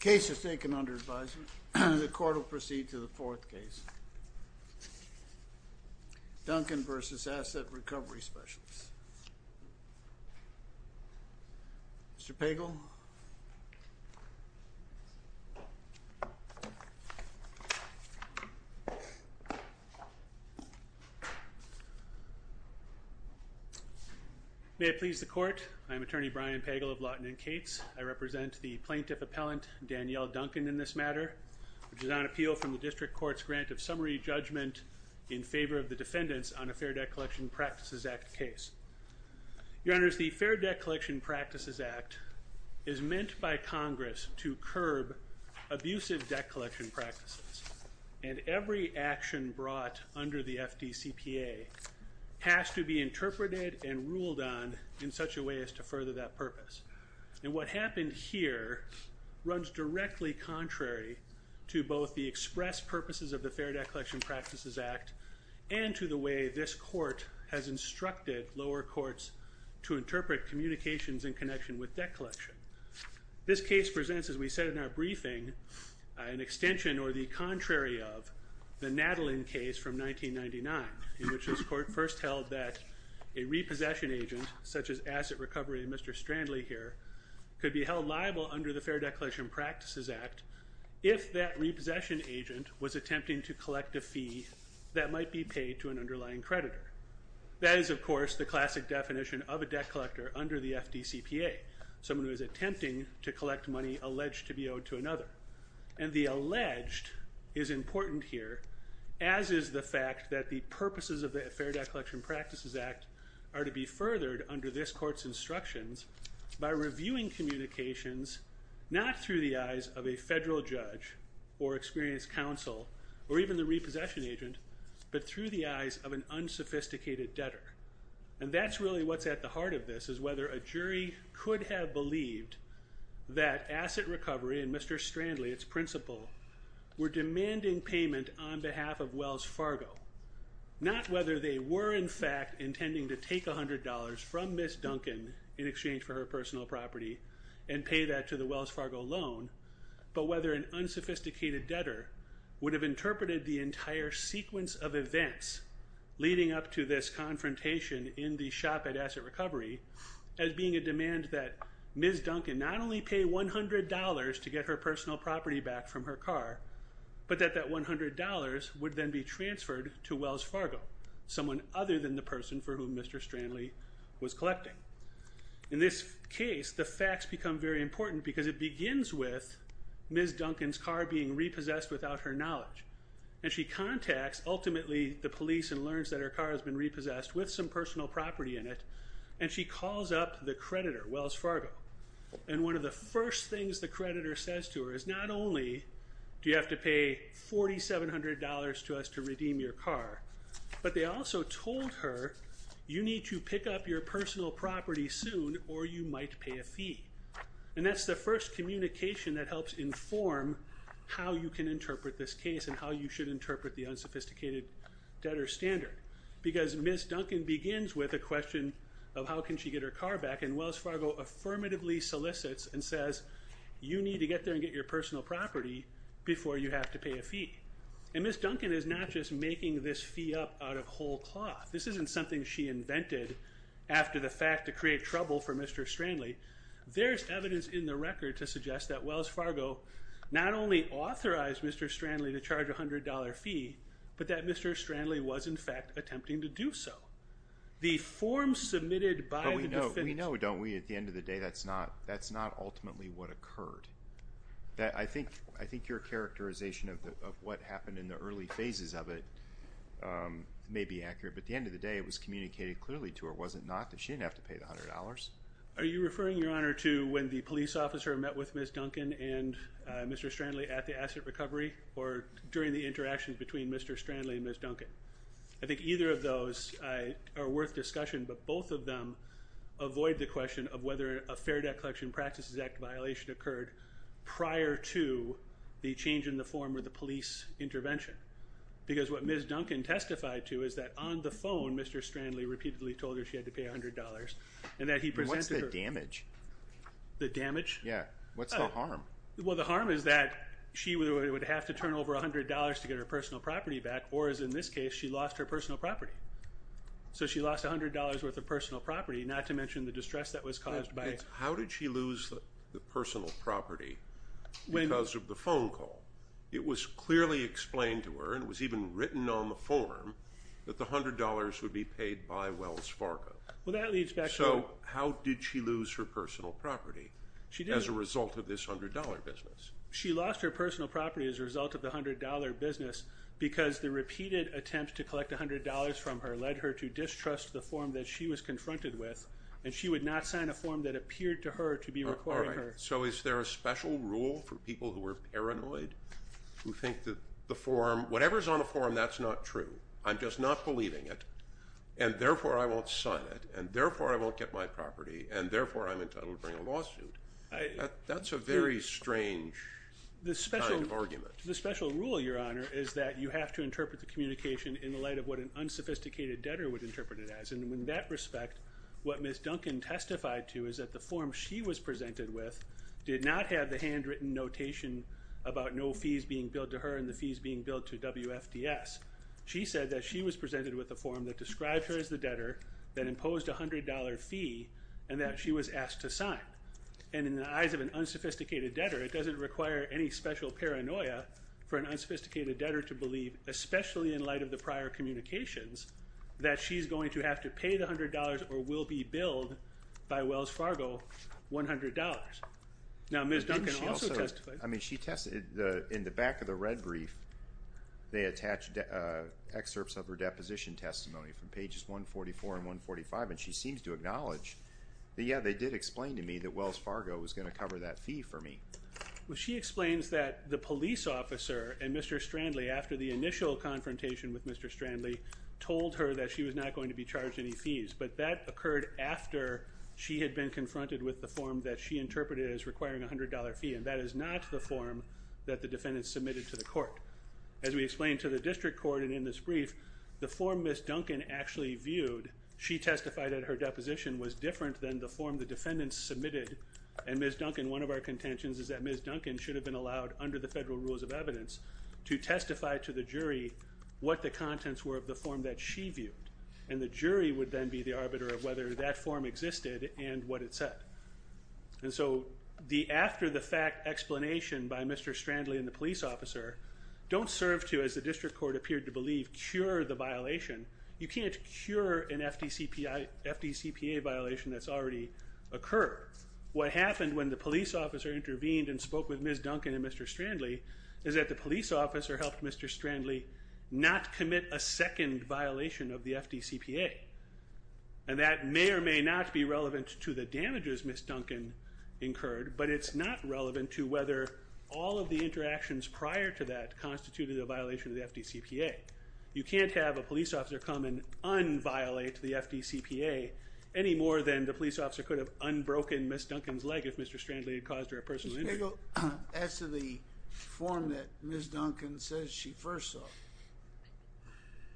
Case is taken under advisement. The court will proceed to the fourth case. Duncan v. Asset Recovery Specialists. Mr. Pagel. May it please the court. I am Attorney Brian Pagel of Lawton & Cates. I represent the Plaintiff Appellant Danielle Duncan in this matter, which is on appeal from the District Court's grant of summary judgment in favor of the defendants on a Fair Debt Collection Practices Act case. Your Honors, the Fair Debt Collection Practices Act is meant by Congress to curb abusive debt collection practices, and every action brought under the FDCPA has to be interpreted and ruled on in such a way as to further that purpose. And what happened here runs directly contrary to both the express purposes of the Fair Debt Collection Practices Act and to the way this court has instructed lower courts to interpret communications in connection with debt collection. This case presents, as we said in our briefing, an extension or the contrary of the Natalin case from 1999, in which this court first held that a repossession agent such as Asset Recovery, Mr. Strandley here, could be held liable under the Fair Debt Collection Practices Act if that repossession agent was attempting to collect a fee that might be paid to an underlying creditor. That is, of course, the classic definition of a debt collector under the FDCPA, someone who is attempting to collect money alleged to be owed to another. And the alleged is important here, as is the fact that the purposes of the Fair Debt Collection Practices Act are to be furthered under this court's instructions by reviewing communications not through the eyes of a federal judge or experienced counsel or even the repossession agent, but through the eyes of an unsophisticated debtor. And that's really what's at the heart of this, is whether a jury could have believed that Asset Recovery and Mr. Strandley, its principal, were demanding payment on behalf of Wells Fargo. Not whether they were, in fact, intending to take $100 from Ms. Duncan in exchange for her personal property and pay that to the Wells Fargo loan, but whether an unsophisticated debtor would have interpreted the entire sequence of events leading up to this confrontation in the shop at Asset Recovery as being a demand that Ms. Duncan not only pay $100 to get her personal property back from her car, but that that $100 would then be transferred to Wells Fargo, someone other than the person for whom Mr. Strandley was collecting. In this case, the facts become very important because it begins with Ms. Duncan's car being repossessed without her knowledge, and she contacts ultimately the police and learns that her car has been repossessed without her knowledge, and she calls up the creditor, Wells Fargo. And one of the first things the creditor says to her is not only do you have to pay $4,700 to us to redeem your car, but they also told her you need to pick up your personal property soon or you might pay a fee. And that's the first communication that helps inform how you can interpret this case and how you should interpret the unsophisticated debtor standard. Because Ms. Duncan begins with a question of how can she get her car back, and Wells Fargo affirmatively solicits and says you need to get there and get your personal property before you have to pay a fee. And Ms. Duncan is not just making this fee up out of whole cloth. This isn't something she invented after the fact to create trouble for Mr. Strandley. There's evidence in the record to suggest that Wells Fargo not only authorized Mr. Strandley to charge a $100 fee, but that Mr. Strandley was in fact attempting to do so. The form submitted by the defendant... We know, don't we, at the end of the day that's not ultimately what occurred. I think your characterization of what happened in the early phases of it may be accurate, but at the end of the day it was communicated clearly to her, was it not, that she didn't have to pay the $100? Are you referring, Your Honor, to when the police officer met with Ms. Duncan and Mr. Strandley during the incident recovery or during the interaction between Mr. Strandley and Ms. Duncan? I think either of those are worth discussion, but both of them avoid the question of whether a Fair Debt Collection Practices Act violation occurred prior to the change in the form of the police intervention. Because what Ms. Duncan testified to is that on the phone Mr. Strandley repeatedly told her she had to pay $100 and that he presented her... What's the damage? The damage? Yeah. What's the harm? Well, the harm is that she would have to turn over $100 to get her personal property back or, as in this case, she lost her personal property. So she lost $100 worth of personal property, not to mention the distress that was caused by... How did she lose the personal property because of the phone call? It was clearly explained to her, and it was even written on the form, that the $100 would be paid by Wells Fargo. Well, that leads back to... So how did she lose her personal property? She did. As a result of this $100 business? She lost her personal property as a result of the $100 business because the repeated attempt to collect $100 from her led her to distrust the form that she was confronted with, and she would not sign a form that appeared to her to be requiring her... So is there a special rule for people who are paranoid, who think that the form... Whatever's on the form, that's not true. I'm just not believing it, and therefore I won't sign it, and therefore I won't get my property, and therefore I'm entitled to bring a lawsuit. That's a very strange kind of argument. The special rule, Your Honor, is that you have to interpret the communication in the light of what an unsophisticated debtor would interpret it as, and in that respect, what Ms. Duncan testified to is that the form she was presented with did not have the handwritten notation about no fees being billed to her and the fees being billed to WFDS. She said that she was presented with a form that described her as the debtor, that imposed a $100 fee, and that she was asked to sign. And in the eyes of an unsophisticated debtor, it doesn't require any special paranoia for an unsophisticated debtor to believe, especially in light of the prior communications, that she's going to have to pay the $100 or will be billed by Wells Fargo $100. Now, Ms. Duncan also testified... I mean, she tested... In the back of the red brief, they attached excerpts of her deposition testimony from pages 144 and 145, and she seems to acknowledge that, yeah, they did explain to me that Wells Fargo was going to cover that fee for me. Well, she explains that the police officer and Mr. Strandley, after the initial confrontation with Mr. Strandley, told her that she was not going to be charged any fees, but that occurred after she had been confronted with the form that she interpreted as requiring a $100 fee, and that is not the form that the defendant submitted to the court. As we Ms. Duncan actually viewed, she testified that her deposition was different than the form the defendant submitted, and Ms. Duncan, one of our contentions is that Ms. Duncan should have been allowed, under the federal rules of evidence, to testify to the jury what the contents were of the form that she viewed, and the jury would then be the arbiter of whether that form existed and what it said. And so, the after-the-fact explanation by Mr. Strandley and the police officer don't serve to, as the district court appeared to You can't cure an FDCPA violation that's already occurred. What happened when the police officer intervened and spoke with Ms. Duncan and Mr. Strandley is that the police officer helped Mr. Strandley not commit a second violation of the FDCPA, and that may or may not be relevant to the damages Ms. Duncan incurred, but it's not relevant to whether all of the interactions prior to that constituted a violation of the FDCPA. You can't have a police officer come and unviolate the FDCPA any more than the police officer could have unbroken Ms. Duncan's leg if Mr. Strandley had caused her a personal injury. Mr. Spiegel, as to the form that Ms. Duncan says she first saw,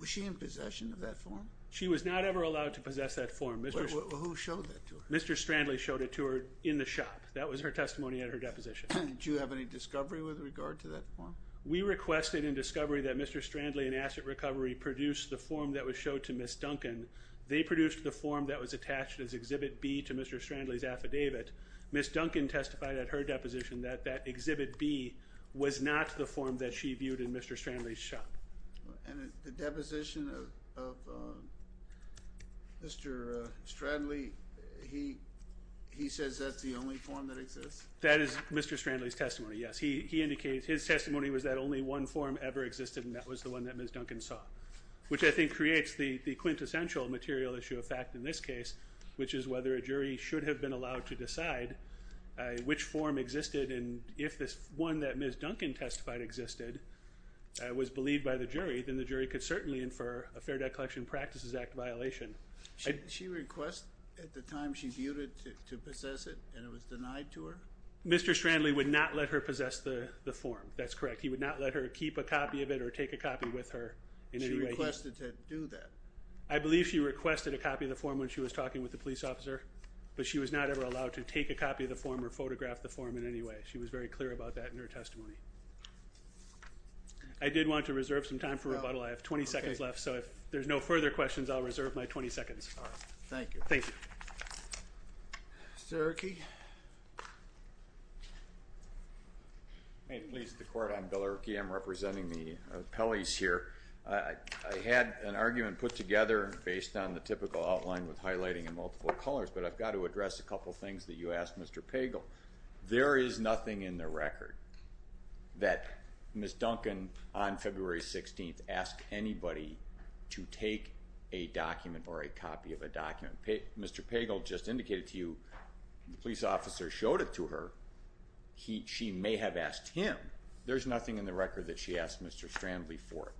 was she in possession of that form? She was not ever allowed to possess that form. Well, who showed that to her? Mr. Strandley showed it to her in the shop. That was her testimony at her deposition. Did you have any discovery with regard to that form? We requested in discovery that Mr. Strandley and Asset Recovery produced the form that was showed to Ms. Duncan. They produced the form that was attached as Exhibit B to Mr. Strandley's affidavit. Ms. Duncan testified at her deposition that that Exhibit B was not the form that she viewed in Mr. Strandley's shop. And the deposition of Mr. Strandley, he says that's the only form that exists? That is Mr. Strandley's testimony, yes. He indicates his testimony was that only one form ever existed and that was the one that Ms. Duncan saw, which I think creates the quintessential material issue of fact in this case, which is whether a jury should have been allowed to decide which form existed and if this one that Ms. Duncan testified existed was believed by the jury, then the jury could certainly infer a Fair Debt Collection Practices Act violation. She requested at the time she viewed it to possess it and it was denied to her? Mr. Strandley would not let her possess the form, that's correct. He would not let her keep a copy of it or take a copy with her in any way. She requested to do that? I believe she requested a copy of the form when she was talking with the police officer, but she was not ever allowed to take a copy of the form or photograph the form in any way. She was very clear about that in her testimony. I did want to reserve some time for rebuttal. I have 20 seconds left, so if there's no further questions, I'll reserve my 20 seconds. Thank you. Thank you. Mr. Erke? May it please the Court, I'm Bill Erke, I'm representing the appellees here. I had an argument put together based on the typical outline with highlighting in multiple colors, but I've got to address a couple things that you asked Mr. Pagel. There is nothing in the record that she asked Mr. Strandley for a document or a copy of a document. Mr. Pagel just indicated to you, the police officer showed it to her, she may have asked him. There's nothing in the record that she asked Mr. Strandley for.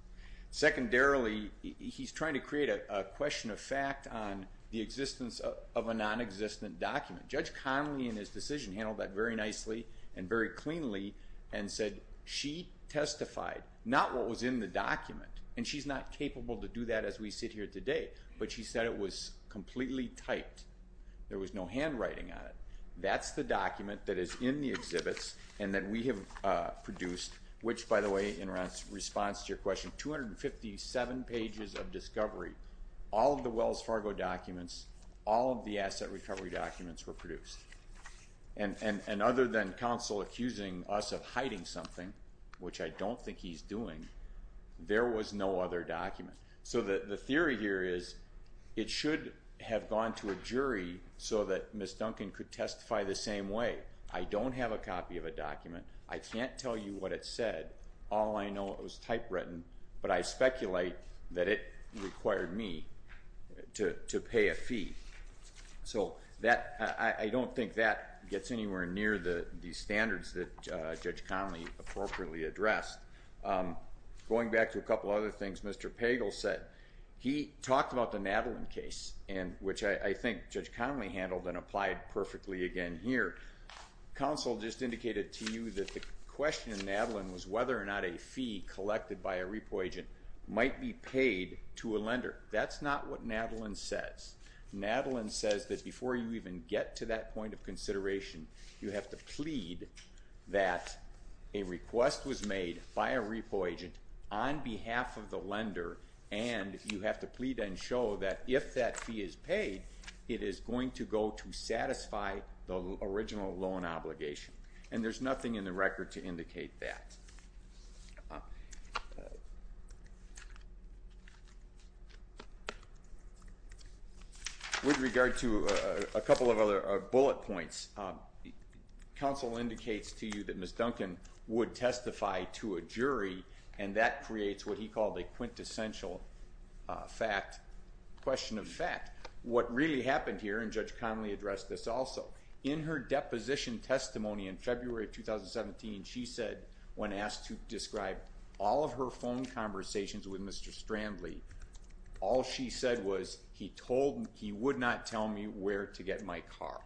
Secondarily, he's trying to create a question of fact on the existence of a non-existent document. Judge Connolly in his decision handled that very nicely and very cleanly and said she testified, not what was in the document, and she's not capable to do that as we sit here today, but she said it was completely typed. There was no handwriting on it. That's the document that is in the exhibits and that we have produced, which by the way, in response to your question, 257 pages of discovery, all of the Wells Fargo documents, all of the asset recovery documents were produced. And other than counsel accusing us of hiding something, which I don't think he's doing, there was no other document. So the theory here is, it should have gone to a jury so that Ms. Duncan could testify the same way. I don't have a copy of a document, I can't tell you what it said, all I know it was typewritten, but I speculate that it required me to pay a fee. So I don't think that gets anywhere near the standards that Judge Connolly appropriately addressed. Going back to a couple other things, Mr. Pagel said, he talked about the Madeline case, which I think Judge Connolly handled and applied perfectly again here. Counsel just indicated to you that the question in Madeline was whether or not a fee collected by a repo agent might be paid to a lender. That's not what Madeline says. Madeline says that before you even get to that point of case, you have to plead that a request was made by a repo agent on behalf of the lender and you have to plead and show that if that fee is paid, it is going to go to satisfy the original loan obligation. And there's nothing in the record to indicate that. With counsel indicates to you that Ms. Duncan would testify to a jury and that creates what he called a quintessential fact, question of fact. What really happened here, and Judge Connolly addressed this also, in her deposition testimony in February of 2017, she said when asked to describe all of her phone conversations with Mr. Strandley, all she said was he told me where to get my car.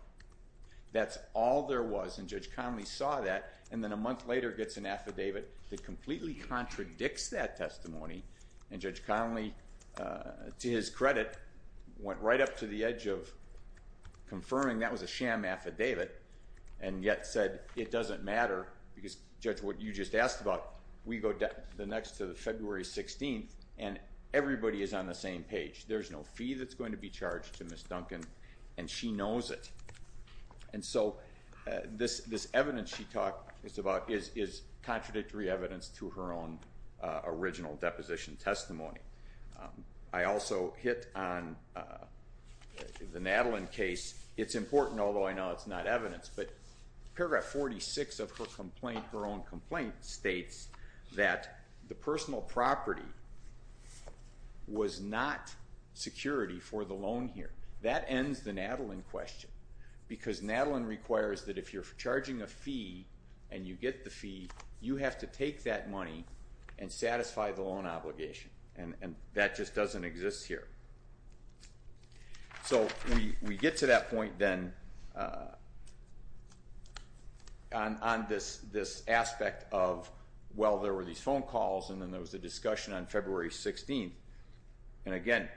That's all there was, and Judge Connolly saw that, and then a month later gets an affidavit that completely contradicts that testimony, and Judge Connolly, to his credit, went right up to the edge of confirming that was a sham affidavit, and yet said it doesn't matter, because Judge, what you just asked about, we go the next to the February 16th, and everybody is on the same page. There's no fee that's going to be charged to Ms. Duncan, and she knows it. And so, this evidence she talked about is contradictory evidence to her own original deposition testimony. I also hit on the Natalyn case. It's important, although I know it's not evidence, but paragraph 46 of her complaint, her own complaint, states that the personal property was not security for the landlord. That ends the Natalyn question, because Natalyn requires that if you're charging a fee, and you get the fee, you have to take that money and satisfy the loan obligation, and that just doesn't exist here. So, we get to that point, then, on this aspect of, well, there were these phone calls, and then there was a discussion on February 16th, and again,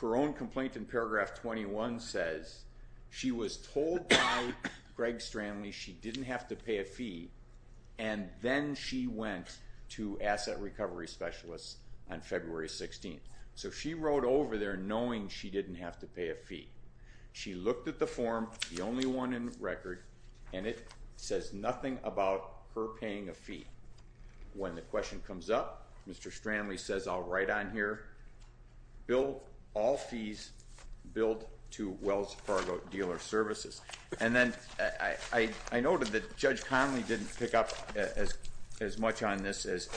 her own complaint in paragraph 21 says she was told by Greg Stranley she didn't have to pay a fee, and then she went to asset recovery specialists on February 16th. So, she wrote over there knowing she didn't have to pay a fee. She looked at the form, the only one in record, and it says nothing about her paying a fee. When the question comes up, Mr. Stranley says, I'll write on here, all fees billed to Wells Fargo Dealer Services. And then, I noted that Judge Connolly didn't pick up as much on this as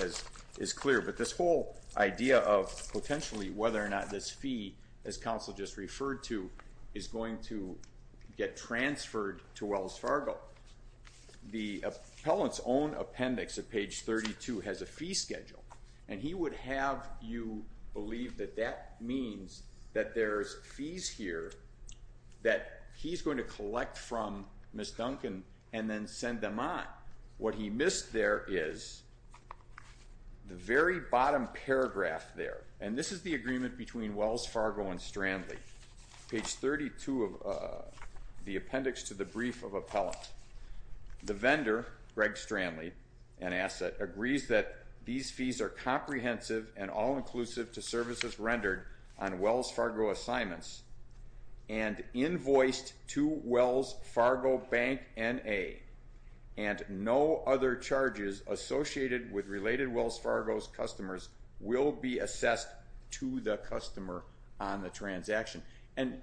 is clear, but this whole idea of potentially whether or not this fee, as counsel just referred to, is going to get transferred to Wells Fargo. The appellant's own appendix at page 32 has a fee schedule, and he would have you believe that that means that there's fees here that he's going to collect from Ms. Duncan and then send them on. What he missed there is the very bottom paragraph there, and this is the agreement between Wells Fargo and Stranley. Page 32 the appendix to the brief of appellant. The vendor, Greg Stranley, an asset, agrees that these fees are comprehensive and all-inclusive to services rendered on Wells Fargo assignments and invoiced to Wells Fargo Bank N.A. And no other charges associated with related Wells Fargo's customers will be assessed to the customer on the transaction. And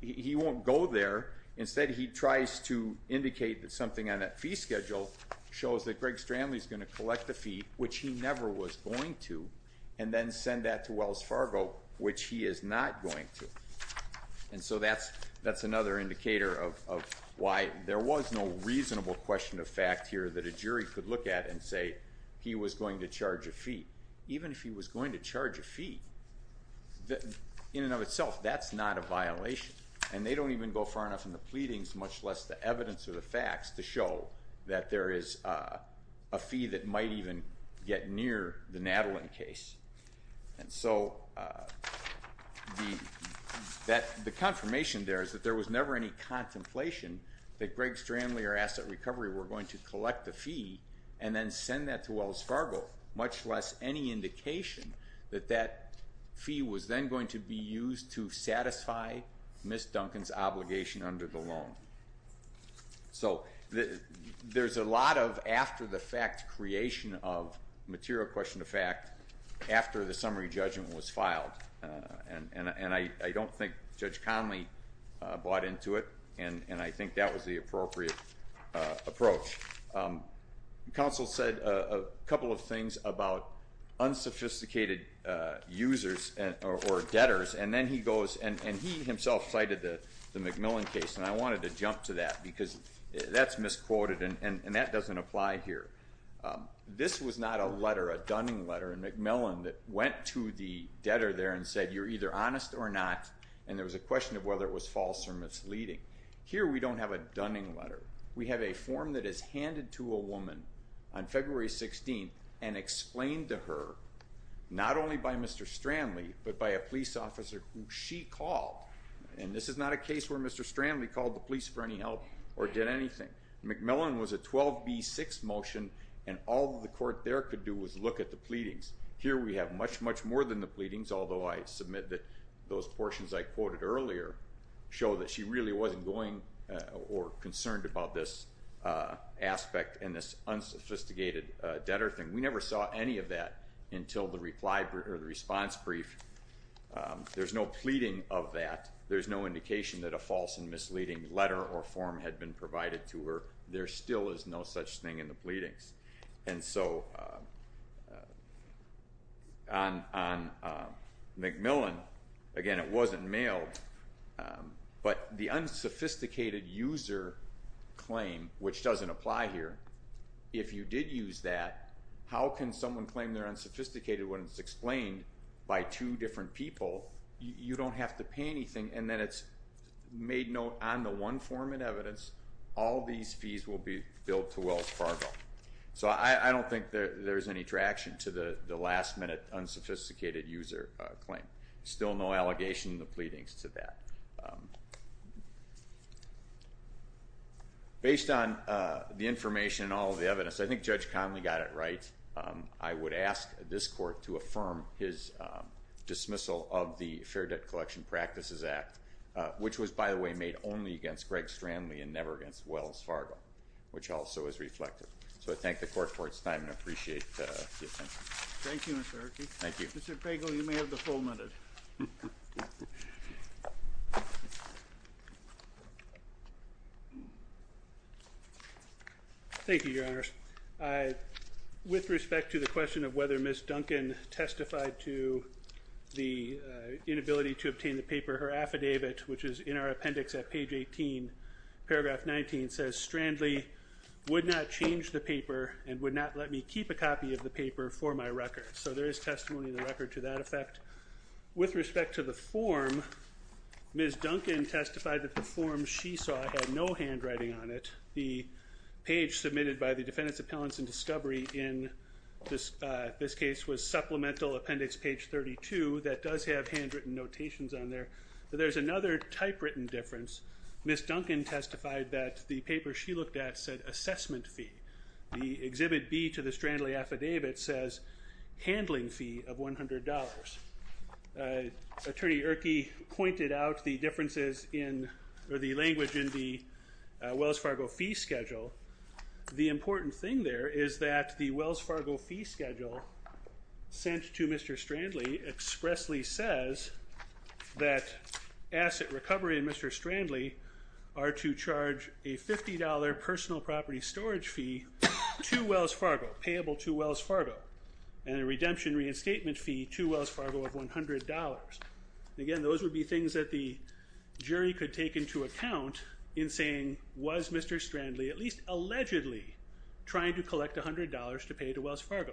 he won't go there. Instead, he tries to indicate that something on that fee schedule shows that he never was going to, and then send that to Wells Fargo, which he is not going to. And so that's another indicator of why there was no reasonable question of fact here that a jury could look at and say he was going to charge a fee. Even if he was going to charge a fee, in and of itself, that's not a violation, and they don't even go far enough in the pleadings, much less the evidence or the facts, to show that there is a fee that might even get near the Natalin case. And so the confirmation there is that there was never any contemplation that Greg Stranley or Asset Recovery were going to collect the fee and then send that to Wells Fargo, much less any indication that that fee was then going to be used to satisfy Ms. Duncan's obligation under the loan. So there's a lot of after-the-fact creation of material question of fact after the summary judgment was filed, and I don't think Judge Conley bought into it, and I think that was the appropriate approach. Counsel said a couple of things about unsophisticated users or debtors, and then he goes and he himself cited the McMillan case, and I wanted to jump to that because that's misquoted and that doesn't apply here. This was not a letter, a dunning letter, in McMillan that went to the debtor there and said you're either honest or not, and there was a question of whether it was false or misleading. Here we don't have a dunning letter. We have a form that is handed to a woman on February 16th and explained to her, not only by Mr. Stranley, but by a police officer who she called, and this is not a case where Mr. Stranley called the police for any help or did anything. McMillan was a 12B6 motion and all the court there could do was look at the pleadings. Here we have much, much more than the pleadings, although I submit that those portions I quoted earlier show that she really wasn't going or concerned about this aspect and this unsophisticated debtor thing. We never saw any of that until the reply or the response brief. There's no pleading of that. There's no indication that a false and misleading letter or form had been provided to her. There still is no such thing in the pleadings. And so on McMillan, again, it wasn't mailed, but the unsophisticated user claim, which doesn't apply here, if you did use that, how can someone claim their unsophisticated when it's explained by two different people, you don't have to pay anything, and then it's made note on the one form of evidence, all these fees will be billed to Wells Fargo. So I don't think there's any traction to the last minute unsophisticated user claim. Still no allegation in the pleadings to that. Based on the information and all that, I would ask this Court to affirm his dismissal of the Fair Debt Collection Practices Act, which was, by the way, made only against Greg Stranley and never against Wells Fargo, which also is reflected. So I thank the Court for its time and appreciate the attention. Thank you, Mr. Herkey. Thank you. Mr. Pagel, you may have the full minute. Thank you, Your Honors. With respect to the question of whether Ms. Duncan testified to the inability to obtain the paper, her affidavit, which is in our appendix at page 18, paragraph 19, says, Strandley would not change the paper and would not let me keep a copy of the paper for my record. So there is testimony in the record to that effect. With respect to the form, Ms. Duncan testified that the form she saw had no handwriting on it. The page submitted by the Defendant's Appellants and Discovery in this case was supplemental, appendix page 32, that does have handwritten notations on there. But there's another typewritten difference. Ms. Duncan testified that the paper she looked at said assessment fee. The Exhibit B to the defendant has handling fee of $100. Attorney Herkey pointed out the differences in, or the language in the Wells Fargo fee schedule. The important thing there is that the Wells Fargo fee schedule sent to Mr. Strandley expressly says that asset recovery and Mr. Strandley are to and a redemption reinstatement fee to Wells Fargo of $100. Again, those would be things that the jury could take into account in saying, was Mr. Strandley at least allegedly trying to collect $100 to pay to Wells Fargo?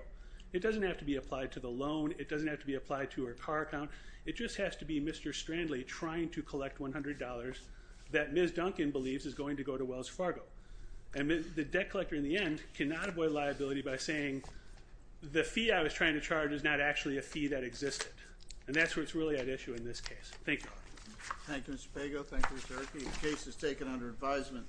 It doesn't have to be applied to the loan. It doesn't have to be applied to her car account. It just has to be Mr. Strandley trying to collect $100 that Ms. Duncan believes is going to go to Wells Fargo. And the debt collector in the end cannot avoid liability by saying the fee I was trying to charge is not actually a fee that existed. And that's what's really at issue in this case. Thank you. Thank you, Mr. Pago. Thank you, Mr. Herkey. The case is taken under advisement.